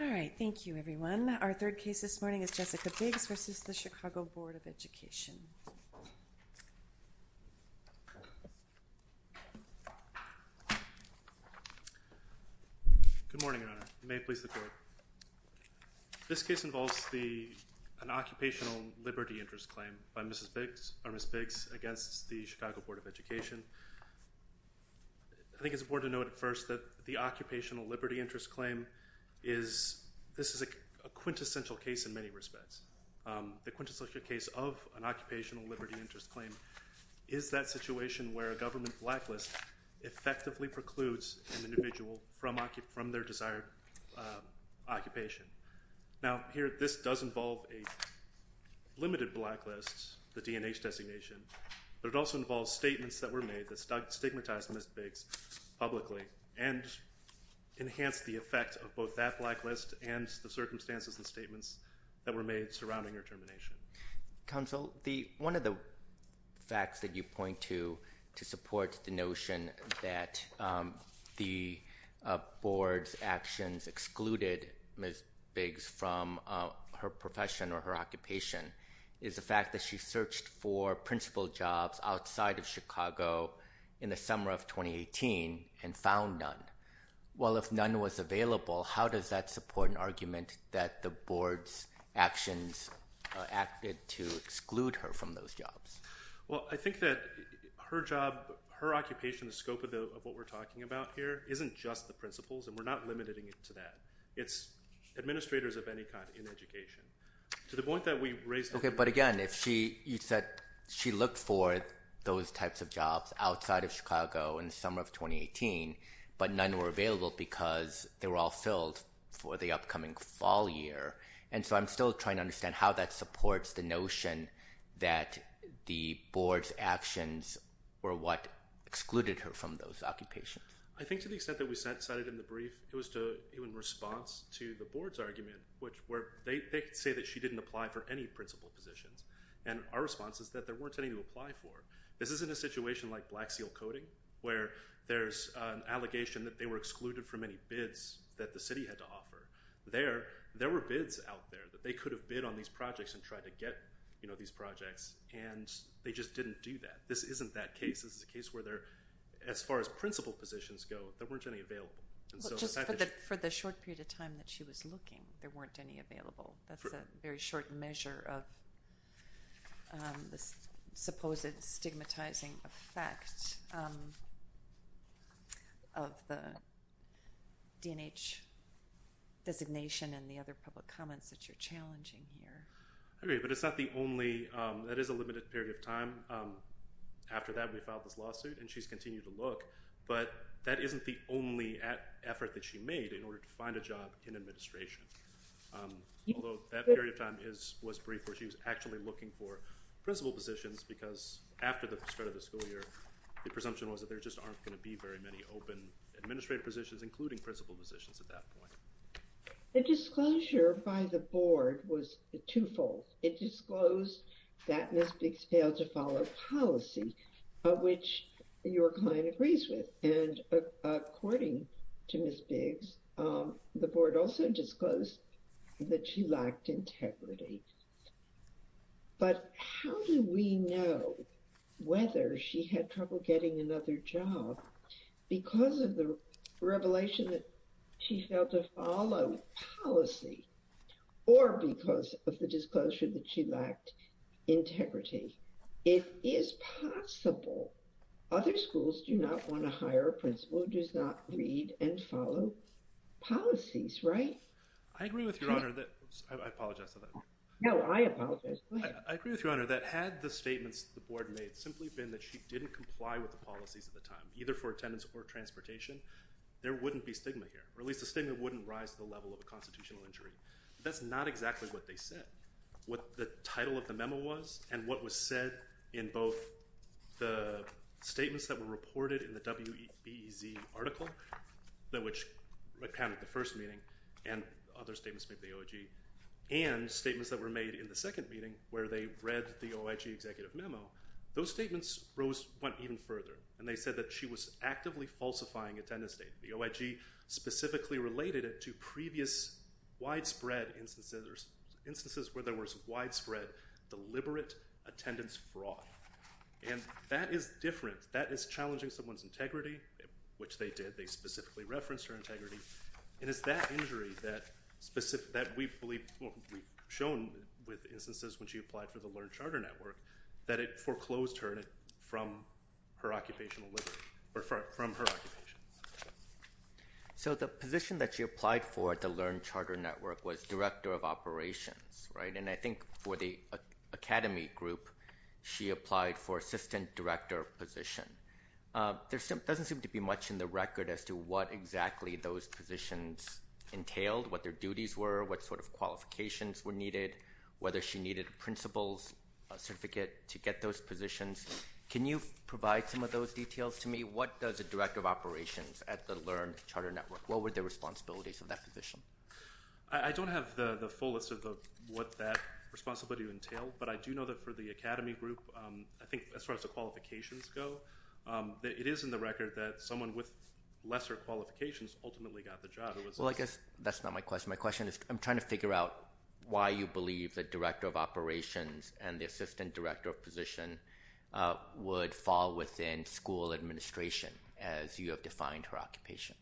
All right, thank you everyone. Our third case this morning is Jessica Biggs v. Chicago Board of Education. Good morning, Your Honor. May it please the Court. This case involves an occupational liberty interest claim by Ms. Biggs against the Chicago Board of Education. I think it's important to note at first that the occupational liberty interest claim is, this is a quintessential case in many respects. The quintessential case of an occupational liberty interest claim is that situation where a government blacklist effectively precludes an individual from their desired occupation. Now, here, this does involve a limited blacklist, the D&H designation, but it also involves statements that were made that stigmatized Ms. Biggs publicly and enhanced the effect of both that blacklist and the circumstances and statements that were made surrounding her termination. Counsel, one of the facts that you point to to support the notion that the board's actions excluded Ms. Biggs from her profession or her occupation is the fact that she searched for principal jobs outside of Chicago in the summer of 2018 and found none. Well, if none was available, how does that support an argument that the board's actions acted to exclude her from those jobs? Well, I think that her job, her occupation, the scope of what we're talking about here, isn't just the principals, and we're not limiting it to that. It's administrators of any kind in education. To the point that we've raised… But again, you said she looked for those types of jobs outside of Chicago in the summer of 2018, but none were available because they were all filled for the upcoming fall year. And so I'm still trying to understand how that supports the notion that the board's actions were what excluded her from those occupations. I think to the extent that we cited in the brief, it was in response to the board's argument, where they say that she didn't apply for any principal positions. And our response is that there weren't any to apply for. This isn't a situation like Black Seal Coding, where there's an allegation that they were excluded from any bids that the city had to offer. There were bids out there that they could have bid on these projects and tried to get these projects, and they just didn't do that. This isn't that case. This is a case where, as far as principal positions go, there weren't any available. Just for the short period of time that she was looking, there weren't any available. That's a very short measure of the supposed stigmatizing effect of the D&H designation and the other public comments that you're challenging here. I agree, but it's not the only—that is a limited period of time. After that, we filed this lawsuit, and she's continued to look. But that isn't the only effort that she made in order to find a job in administration, although that period of time was brief, where she was actually looking for principal positions, because after the start of the school year, the presumption was that there just aren't going to be very many open administrative positions, including principal positions at that point. The disclosure by the board was twofold. It disclosed that Ms. Biggs failed to follow policy, which your client agrees with. And according to Ms. Biggs, the board also disclosed that she lacked integrity. But how do we know whether she had trouble getting another job because of the revelation that she failed to follow policy or because of the disclosure that she lacked integrity? It is possible. Other schools do not want to hire a principal who does not read and follow policies, right? I agree with Your Honor that—I apologize for that. No, I apologize. Go ahead. I agree with Your Honor that had the statements the board made simply been that she didn't comply with the policies at the time, either for attendance or transportation, there wouldn't be stigma here, or at least the stigma wouldn't rise to the level of a constitutional injury. But that's not exactly what they said. What the title of the memo was and what was said in both the statements that were reported in the WBEZ article, which recounted the first meeting and other statements made by the OIG, and statements that were made in the second meeting where they read the OIG executive memo, those statements went even further, and they said that she was actively falsifying attendance data. The OIG specifically related it to previous widespread instances where there was widespread deliberate attendance fraud. And that is different. That is challenging someone's integrity, which they did. And it's that injury that we've shown with instances when she applied for the Learned Charter Network, that it foreclosed her from her occupation. So the position that she applied for at the Learned Charter Network was director of operations, right? And I think for the academy group, she applied for assistant director position. There doesn't seem to be much in the record as to what exactly those positions entailed, what their duties were, what sort of qualifications were needed, whether she needed a principal's certificate to get those positions. Can you provide some of those details to me? What does a director of operations at the Learned Charter Network, what were the responsibilities of that position? I don't have the fullest of what that responsibility entailed, but I do know that for the academy group, I think as far as the qualifications go, it is in the record that someone with lesser qualifications ultimately got the job. Well, I guess that's not my question. My question is I'm trying to figure out why you believe the director of operations and the assistant director of position would fall within school administration as you have defined her occupation.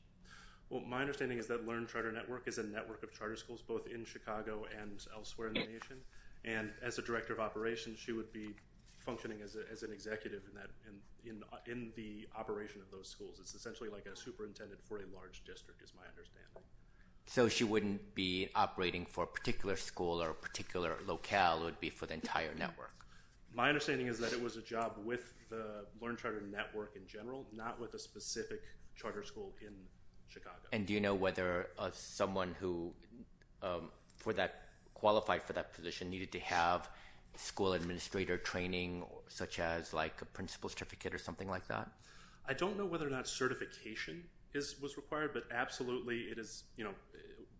Well, my understanding is that Learned Charter Network is a network of charter schools both in Chicago and elsewhere in the nation. And as a director of operations, she would be functioning as an executive in the operation of those schools. It's essentially like a superintendent for a large district is my understanding. So she wouldn't be operating for a particular school or a particular locale. It would be for the entire network. My understanding is that it was a job with the Learned Charter Network in general, not with a specific charter school in Chicago. And do you know whether someone who qualified for that position needed to have school administrator training, such as like a principal certificate or something like that? I don't know whether or not certification was required, but absolutely,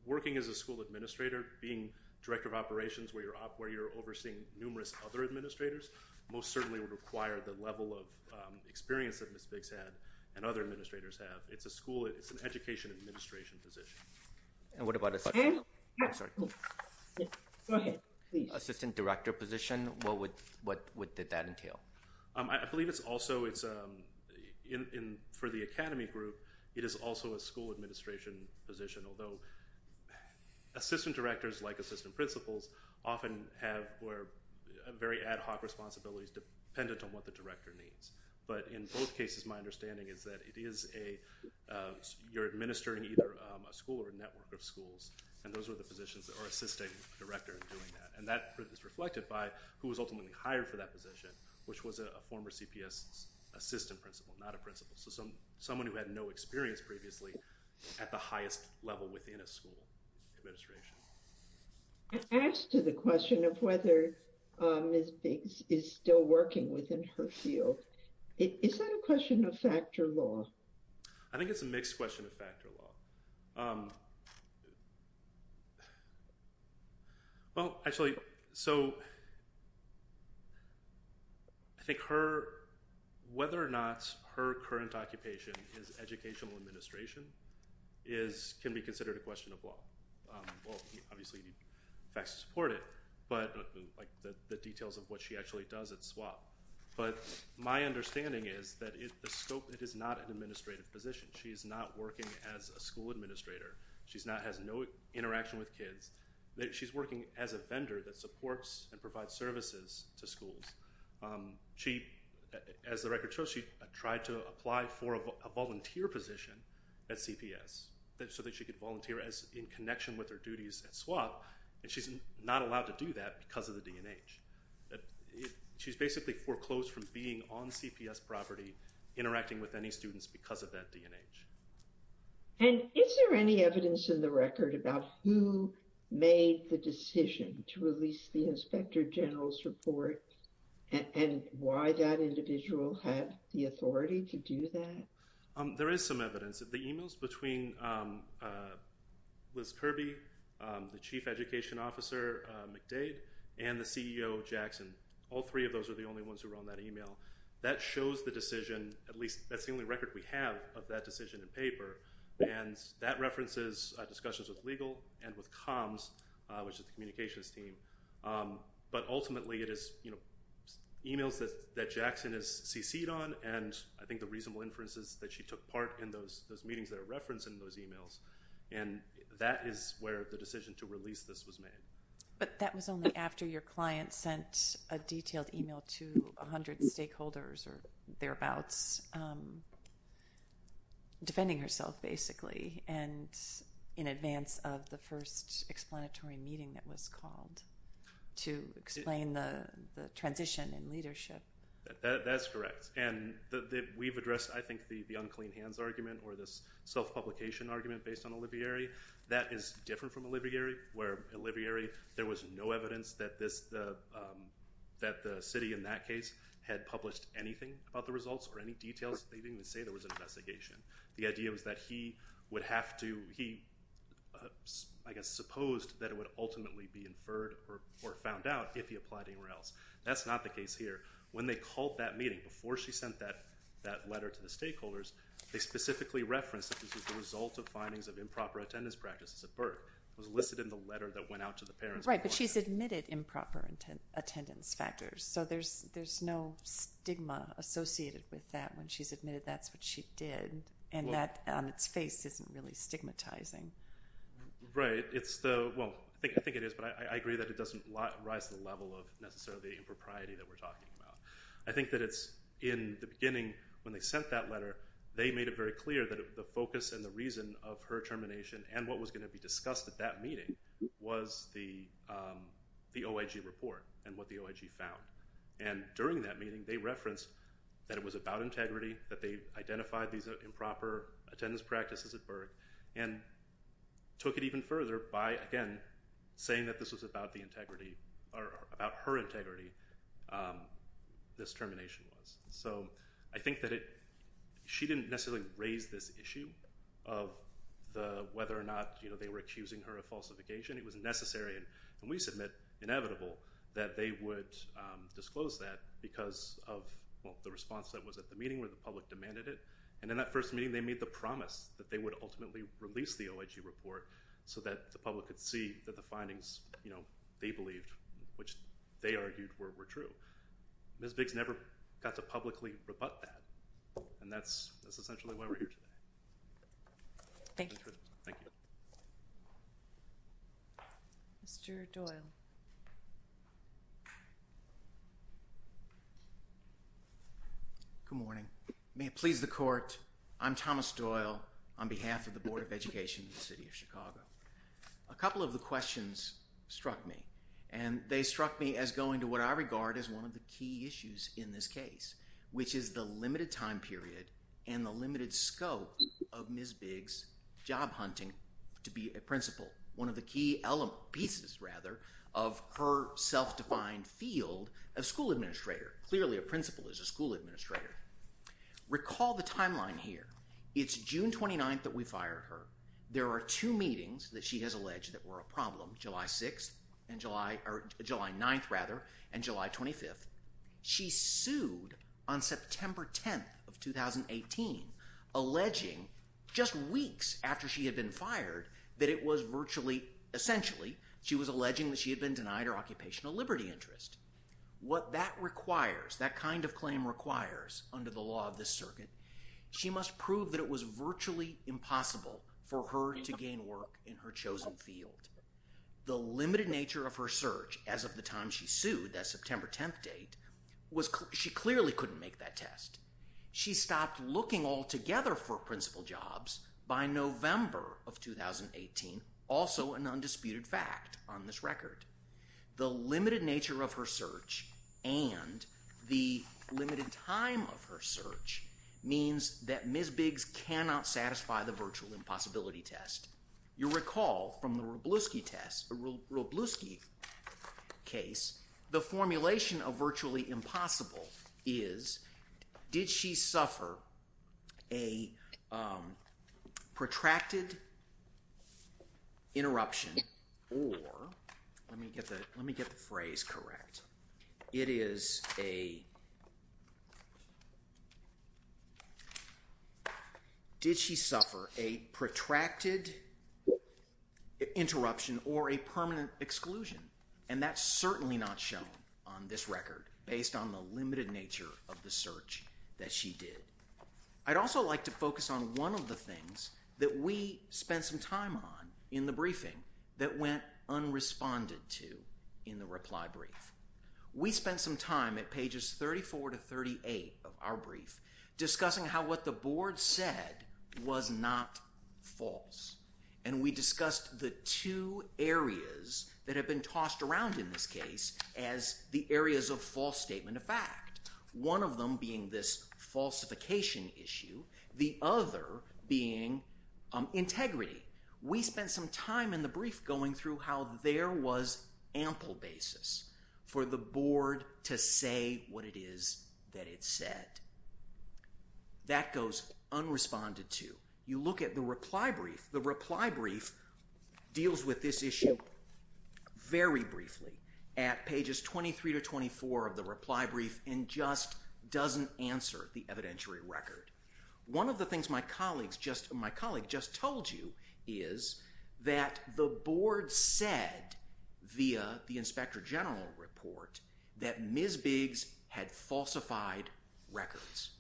working as a school administrator, being director of operations where you're overseeing numerous other administrators, most certainly would require the level of experience that Ms. Biggs had and other administrators have. It's a school. It's an education administration position. And what about an assistant director position? What did that entail? I believe it's also for the academy group. It is also a school administration position, although assistant directors, like assistant principals, often have very ad hoc responsibilities dependent on what the director needs. But in both cases, my understanding is that it is a you're administering either a school or a network of schools. And those are the positions that are assisting director in doing that. And that is reflected by who was ultimately hired for that position, which was a former CPS assistant principal, not a principal. So some someone who had no experience previously at the highest level within a school administration. I asked the question of whether Ms. Biggs is still working within her field. Is that a question of fact or law? I think it's a mixed question of fact or law. Well, actually, so I think her whether or not her current occupation is educational administration is can be considered a question of law. Well, obviously, facts support it, but like the details of what she actually does at SWAP. But my understanding is that the scope, it is not an administrative position. She is not working as a school administrator. She's not has no interaction with kids. She's working as a vendor that supports and provides services to schools. She, as the record shows, she tried to apply for a volunteer position at CPS so that she could volunteer as in connection with her duties at SWAP. And she's not allowed to do that because of the D&H. She's basically foreclosed from being on CPS property, interacting with any students because of that D&H. And is there any evidence in the record about who made the decision to release the inspector general's report and why that individual had the authority to do that? There is some evidence that the emails between Liz Kirby, the chief education officer, McDade, and the CEO, Jackson, all three of those are the only ones who were on that email. That shows the decision, at least that's the only record we have of that decision in paper. And that references discussions with legal and with comms, which is the communications team. But ultimately it is emails that Jackson has cc'd on and I think the reasonable inference is that she took part in those meetings that are referenced in those emails. And that is where the decision to release this was made. But that was only after your client sent a detailed email to 100 stakeholders or thereabouts, defending herself basically. And in advance of the first explanatory meeting that was called to explain the transition in leadership. That's correct. And we've addressed, I think, the unclean hands argument or this self-publication argument based on Olivieri. That is different from Olivieri, where Olivieri, there was no evidence that the city in that case had published anything about the results or any details. They didn't even say there was an investigation. The idea was that he would have to, he, I guess, supposed that it would ultimately be inferred or found out if he applied anywhere else. That's not the case here. When they called that meeting, before she sent that letter to the stakeholders, they specifically referenced that this was the result of findings of improper attendance practices at birth. It was listed in the letter that went out to the parents. Right, but she's admitted improper attendance factors. So there's no stigma associated with that when she's admitted that's what she did and that on its face isn't really stigmatizing. Right. Well, I think it is, but I agree that it doesn't rise to the level of necessarily the impropriety that we're talking about. I think that it's in the beginning when they sent that letter, they made it very clear that the focus and the reason of her termination and what was going to be discussed at that meeting was the OIG report and what the OIG found. And during that meeting, they referenced that it was about integrity, that they identified these improper attendance practices at birth. And took it even further by, again, saying that this was about her integrity, this termination was. So I think that she didn't necessarily raise this issue of whether or not they were accusing her of falsification. It was necessary, and we submit inevitable, that they would disclose that because of the response that was at the meeting where the public demanded it. And in that first meeting, they made the promise that they would ultimately release the OIG report so that the public could see that the findings they believed, which they argued were true. Ms. Biggs never got to publicly rebut that, and that's essentially why we're here today. Thank you. Thank you. Mr. Doyle. Good morning. May it please the court, I'm Thomas Doyle on behalf of the Board of Education in the city of Chicago. A couple of the questions struck me, and they struck me as going to what I regard as one of the key issues in this case, which is the limited time period and the limited scope of Ms. Biggs' job hunting to be a principal. One of the key pieces, rather, of her self-defined field of school administrator. Clearly, a principal is a school administrator. Recall the timeline here. It's June 29th that we fire her. There are two meetings that she has alleged that were a problem, July 6th and July – or July 9th, rather, and July 25th. She sued on September 10th of 2018, alleging just weeks after she had been fired that it was virtually – essentially, she was alleging that she had been denied her occupational liberty interest. What that requires, that kind of claim requires under the law of this circuit, she must prove that it was virtually impossible for her to gain work in her chosen field. The limited nature of her search as of the time she sued, that September 10th date, was – she clearly couldn't make that test. She stopped looking altogether for principal jobs by November of 2018, also an undisputed fact on this record. The limited nature of her search and the limited time of her search means that Ms. Biggs cannot satisfy the virtual impossibility test. You'll recall from the Robluski test – Robluski case, the formulation of virtually impossible is, did she suffer a protracted interruption or – let me get the phrase correct. It is a – did she suffer a protracted interruption or a permanent exclusion? And that's certainly not shown on this record, based on the limited nature of the search that she did. I'd also like to focus on one of the things that we spent some time on in the briefing that went unresponded to in the reply brief. We spent some time at pages 34 to 38 of our brief discussing how what the board said was not false. And we discussed the two areas that have been tossed around in this case as the areas of false statement of fact. One of them being this falsification issue, the other being integrity. We spent some time in the brief going through how there was ample basis for the board to say what it is that it said. That goes unresponded to. You look at the reply brief. The reply brief deals with this issue very briefly at pages 23 to 24 of the reply brief and just doesn't answer the evidentiary record. One of the things my colleagues just – my colleague just told you is that the board said via the inspector general report that Ms. Biggs had falsified records.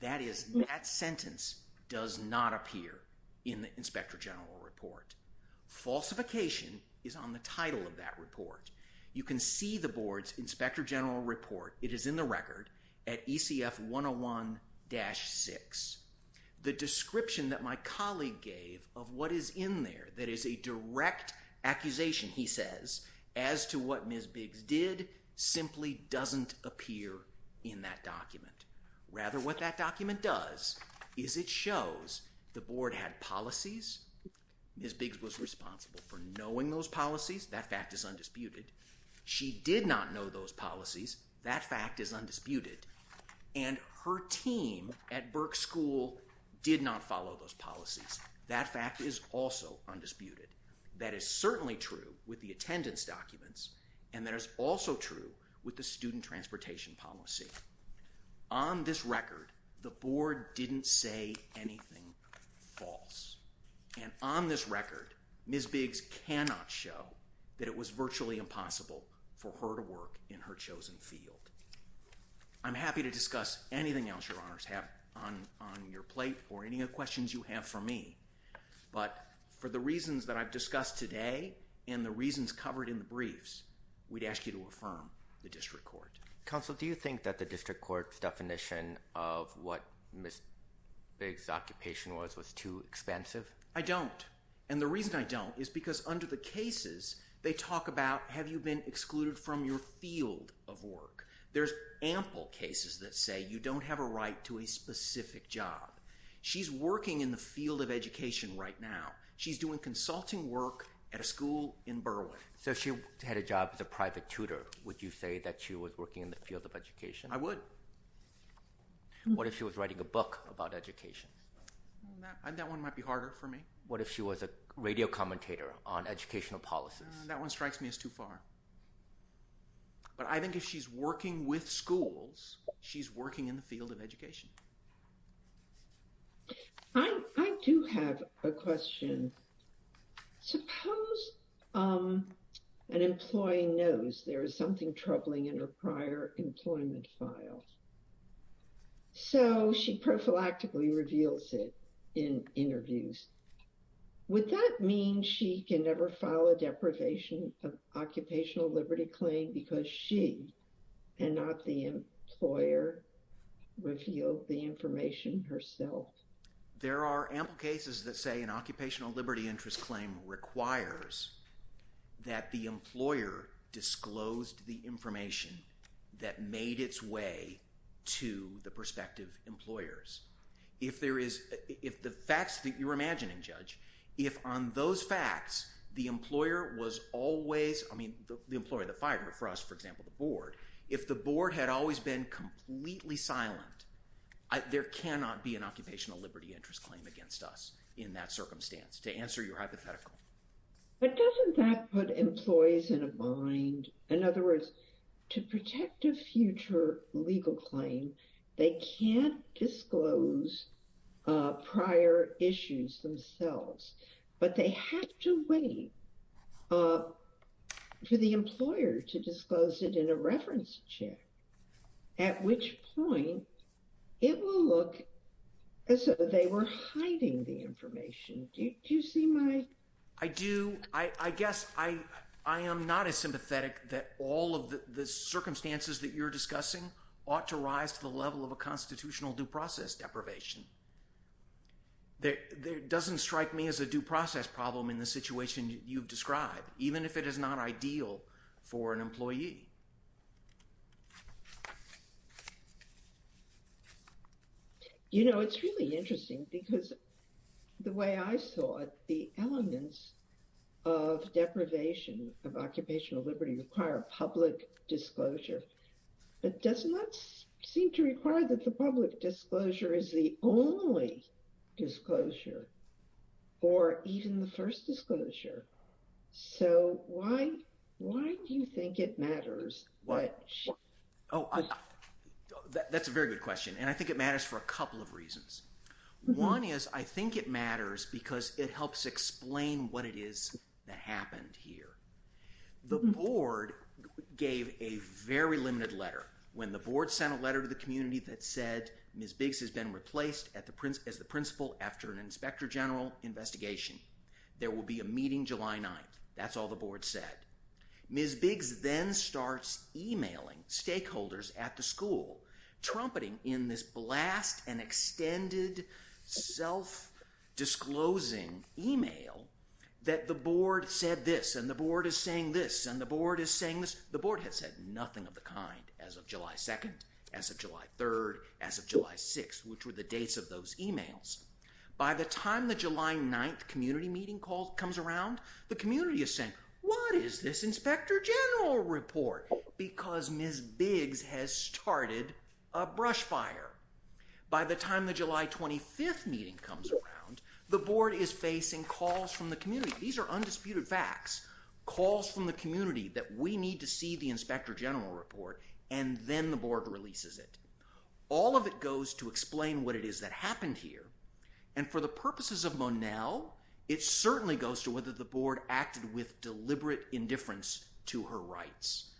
That is, that sentence does not appear in the inspector general report. Falsification is on the title of that report. You can see the board's inspector general report. It is in the record at ECF 101-6. The description that my colleague gave of what is in there that is a direct accusation, he says, as to what Ms. Biggs did simply doesn't appear in that document. Rather, what that document does is it shows the board had policies. Ms. Biggs was responsible for knowing those policies. That fact is undisputed. She did not know those policies. That fact is undisputed. And her team at Burke School did not follow those policies. That fact is also undisputed. That is certainly true with the attendance documents, and that is also true with the student transportation policy. On this record, the board didn't say anything false. And on this record, Ms. Biggs cannot show that it was virtually impossible for her to work in her chosen field. I'm happy to discuss anything else Your Honors have on your plate or any other questions you have for me. But for the reasons that I've discussed today and the reasons covered in the briefs, we'd ask you to affirm the district court. Counsel, do you think that the district court's definition of what Ms. Biggs' occupation was was too expansive? I don't. And the reason I don't is because under the cases, they talk about have you been excluded from your field of work. There's ample cases that say you don't have a right to a specific job. She's working in the field of education right now. She's doing consulting work at a school in Burwood. So if she had a job as a private tutor, would you say that she was working in the field of education? I would. What if she was writing a book about education? That one might be harder for me. What if she was a radio commentator on educational policies? That one strikes me as too far. But I think if she's working with schools, she's working in the field of education. I do have a question. Suppose an employee knows there is something troubling in her prior employment file. So she prophylactically reveals it in interviews. Would that mean she can never file a deprivation of occupational liberty claim because she and not the employer revealed the information herself? There are ample cases that say an occupational liberty interest claim requires that the employer disclosed the information that made its way to the prospective employers. If the facts that you're imagining, Judge, if on those facts, the employer was always, I mean, the employer, the fire, for us, for example, the board, if the board had always been completely silent, there cannot be an occupational liberty interest claim against us in that circumstance, to answer your hypothetical. But doesn't that put employees in a bind? In other words, to protect a future legal claim, they can't disclose prior issues themselves. But they have to wait for the employer to disclose it in a reference check, at which point it will look as though they were hiding the information. Do you see my... I do. I guess I am not as sympathetic that all of the circumstances that you're discussing ought to rise to the level of a constitutional due process deprivation. That doesn't strike me as a due process problem in the situation you've described, even if it is not ideal for an employee. You know, it's really interesting because the way I saw it, the elements of deprivation of occupational liberty require public disclosure. It does not seem to require that the public disclosure is the only disclosure, or even the first disclosure. So why do you think it matters? Oh, that's a very good question, and I think it matters for a couple of reasons. One is, I think it matters because it helps explain what it is that happened here. The board gave a very limited letter. When the board sent a letter to the community that said Ms. Biggs has been replaced as the principal after an Inspector General investigation, there will be a meeting July 9th. That's all the board said. Ms. Biggs then starts emailing stakeholders at the school, trumpeting in this blast and extended self-disclosing email that the board said this, and the board is saying this, and the board is saying this. The board has said nothing of the kind as of July 2nd, as of July 3rd, as of July 6th, which were the dates of those emails. By the time the July 9th community meeting comes around, the community is saying, what is this Inspector General report? Because Ms. Biggs has started a brush fire. By the time the July 25th meeting comes around, the board is facing calls from the community. These are undisputed facts, calls from the community that we need to see the Inspector General report, and then the board releases it. All of it goes to explain what it is that happened here, and for the purposes of Monell, it certainly goes to whether the board acted with deliberate indifference to her rights.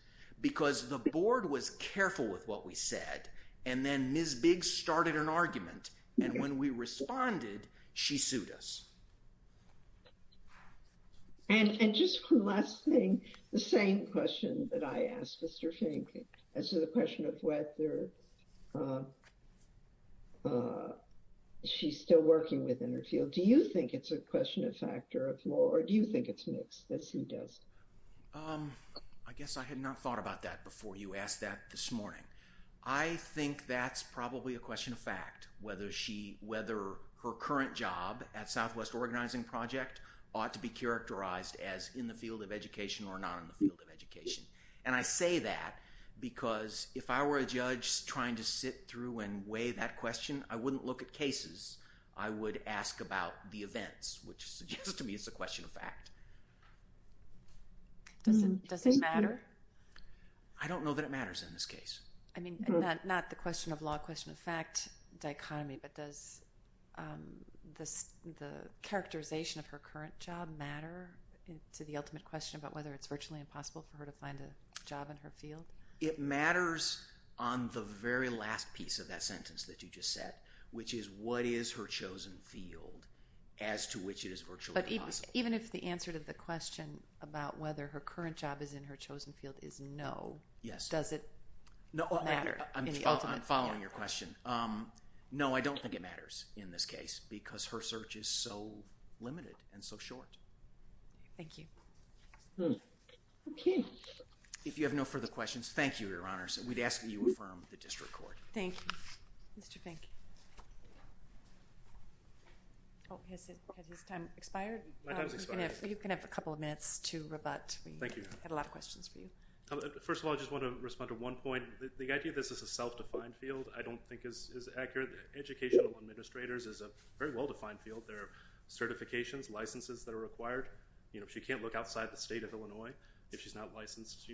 Because the board was careful with what we said, and then Ms. Biggs started an argument, and when we responded, she sued us. And just one last thing, the same question that I asked Mr. Fink, as to the question of whether she's still working within her field. Do you think it's a question of factor of law, or do you think it's mixed, as she does? I guess I had not thought about that before you asked that this morning. I think that's probably a question of fact, whether her current job at Southwest Organizing Project ought to be characterized as in the field of education or not in the field of education. And I say that because if I were a judge trying to sit through and weigh that question, I wouldn't look at cases. I would ask about the events, which suggests to me it's a question of fact. Does it matter? I don't know that it matters in this case. I mean, not the question of law, question of fact dichotomy, but does the characterization of her current job matter to the ultimate question about whether it's virtually impossible for her to find a job in her field? It matters on the very last piece of that sentence that you just said, which is what is her chosen field as to which it is virtually impossible. But even if the answer to the question about whether her current job is in her chosen field is no, does it matter in the ultimate field? I'm following your question. No, I don't think it matters in this case, because her search is so limited and so short. Thank you. OK. If you have no further questions, thank you, Your Honor. We'd ask that you affirm the district court. Thank you. Mr. Fink. Oh, has his time expired? My time's expired. You can have a couple of minutes to rebut. Thank you, Your Honor. We had a lot of questions for you. First of all, I just want to respond to one point. The idea that this is a self-defined field I don't think is accurate. Educational administrators is a very well-defined field. There are certifications, licenses that are required. She can't look outside the state of Illinois if she's not licensed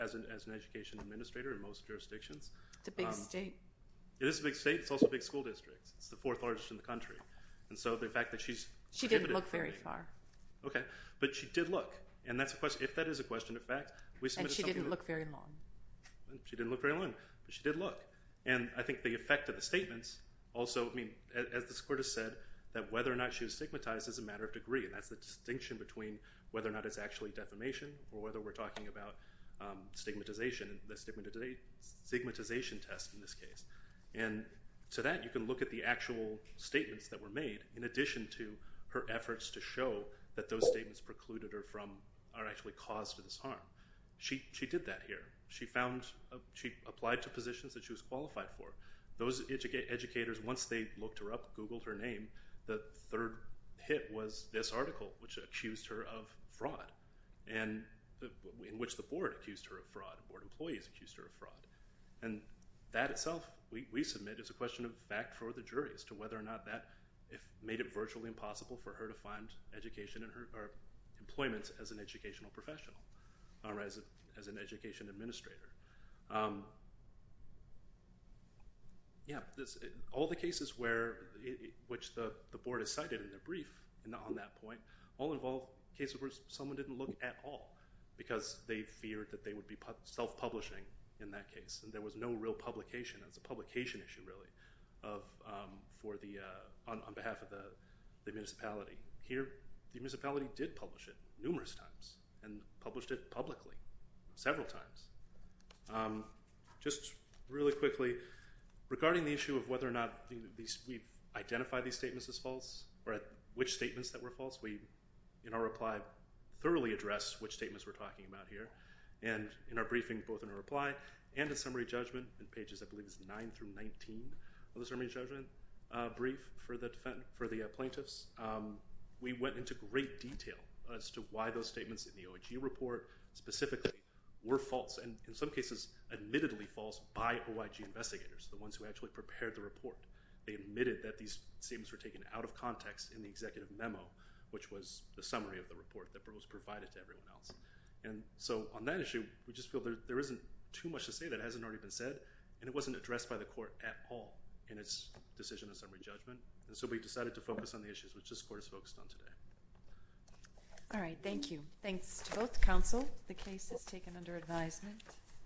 as an education administrator in most jurisdictions. It's a big state. It is a big state. It's also a big school district. It's the fourth largest in the country. And so the fact that she's… She didn't look very far. OK. But she did look. And if that is a question of fact, we submitted something that… And she didn't look very long. She didn't look very long, but she did look. And I think the effect of the statements also, I mean, as the court has said, that whether or not she was stigmatized is a matter of degree. And that's the distinction between whether or not it's actually defamation or whether we're talking about stigmatization, the stigmatization test in this case. And to that, you can look at the actual statements that were made in addition to her efforts to show that those statements precluded her from or actually caused her this harm. She did that here. She found… She applied to positions that she was qualified for. Those educators, once they looked her up, Googled her name, the third hit was this article, which accused her of fraud, in which the board accused her of fraud. Board employees accused her of fraud. And that itself, we submit, is a question of fact for the jury as to whether or not that made it virtually impossible for her to find education or employment as an educational professional or as an education administrator. Yeah, all the cases which the board has cited in their brief on that point all involve cases where someone didn't look at all because they feared that they would be self-publishing in that case. And there was no real publication. That's a publication issue, really, on behalf of the municipality. Here, the municipality did publish it numerous times and published it publicly several times. Just really quickly, regarding the issue of whether or not we've identified these statements as false or which statements that were false, we, in our reply, thoroughly addressed which statements we're talking about here. And in our briefing, both in our reply and the summary judgment in pages, I believe it's 9 through 19 of the summary judgment brief for the plaintiffs, we went into great detail as to why those statements in the OIG report specifically were false. And in some cases, admittedly false by OIG investigators, the ones who actually prepared the report. They admitted that these statements were taken out of context in the executive memo, which was the summary of the report that was provided to everyone else. And so on that issue, we just feel there isn't too much to say that hasn't already been said. And it wasn't addressed by the court at all in its decision of summary judgment. And so we decided to focus on the issues, which this court is focused on today. All right, thank you. Thanks to both counsel. The case is taken under advisement.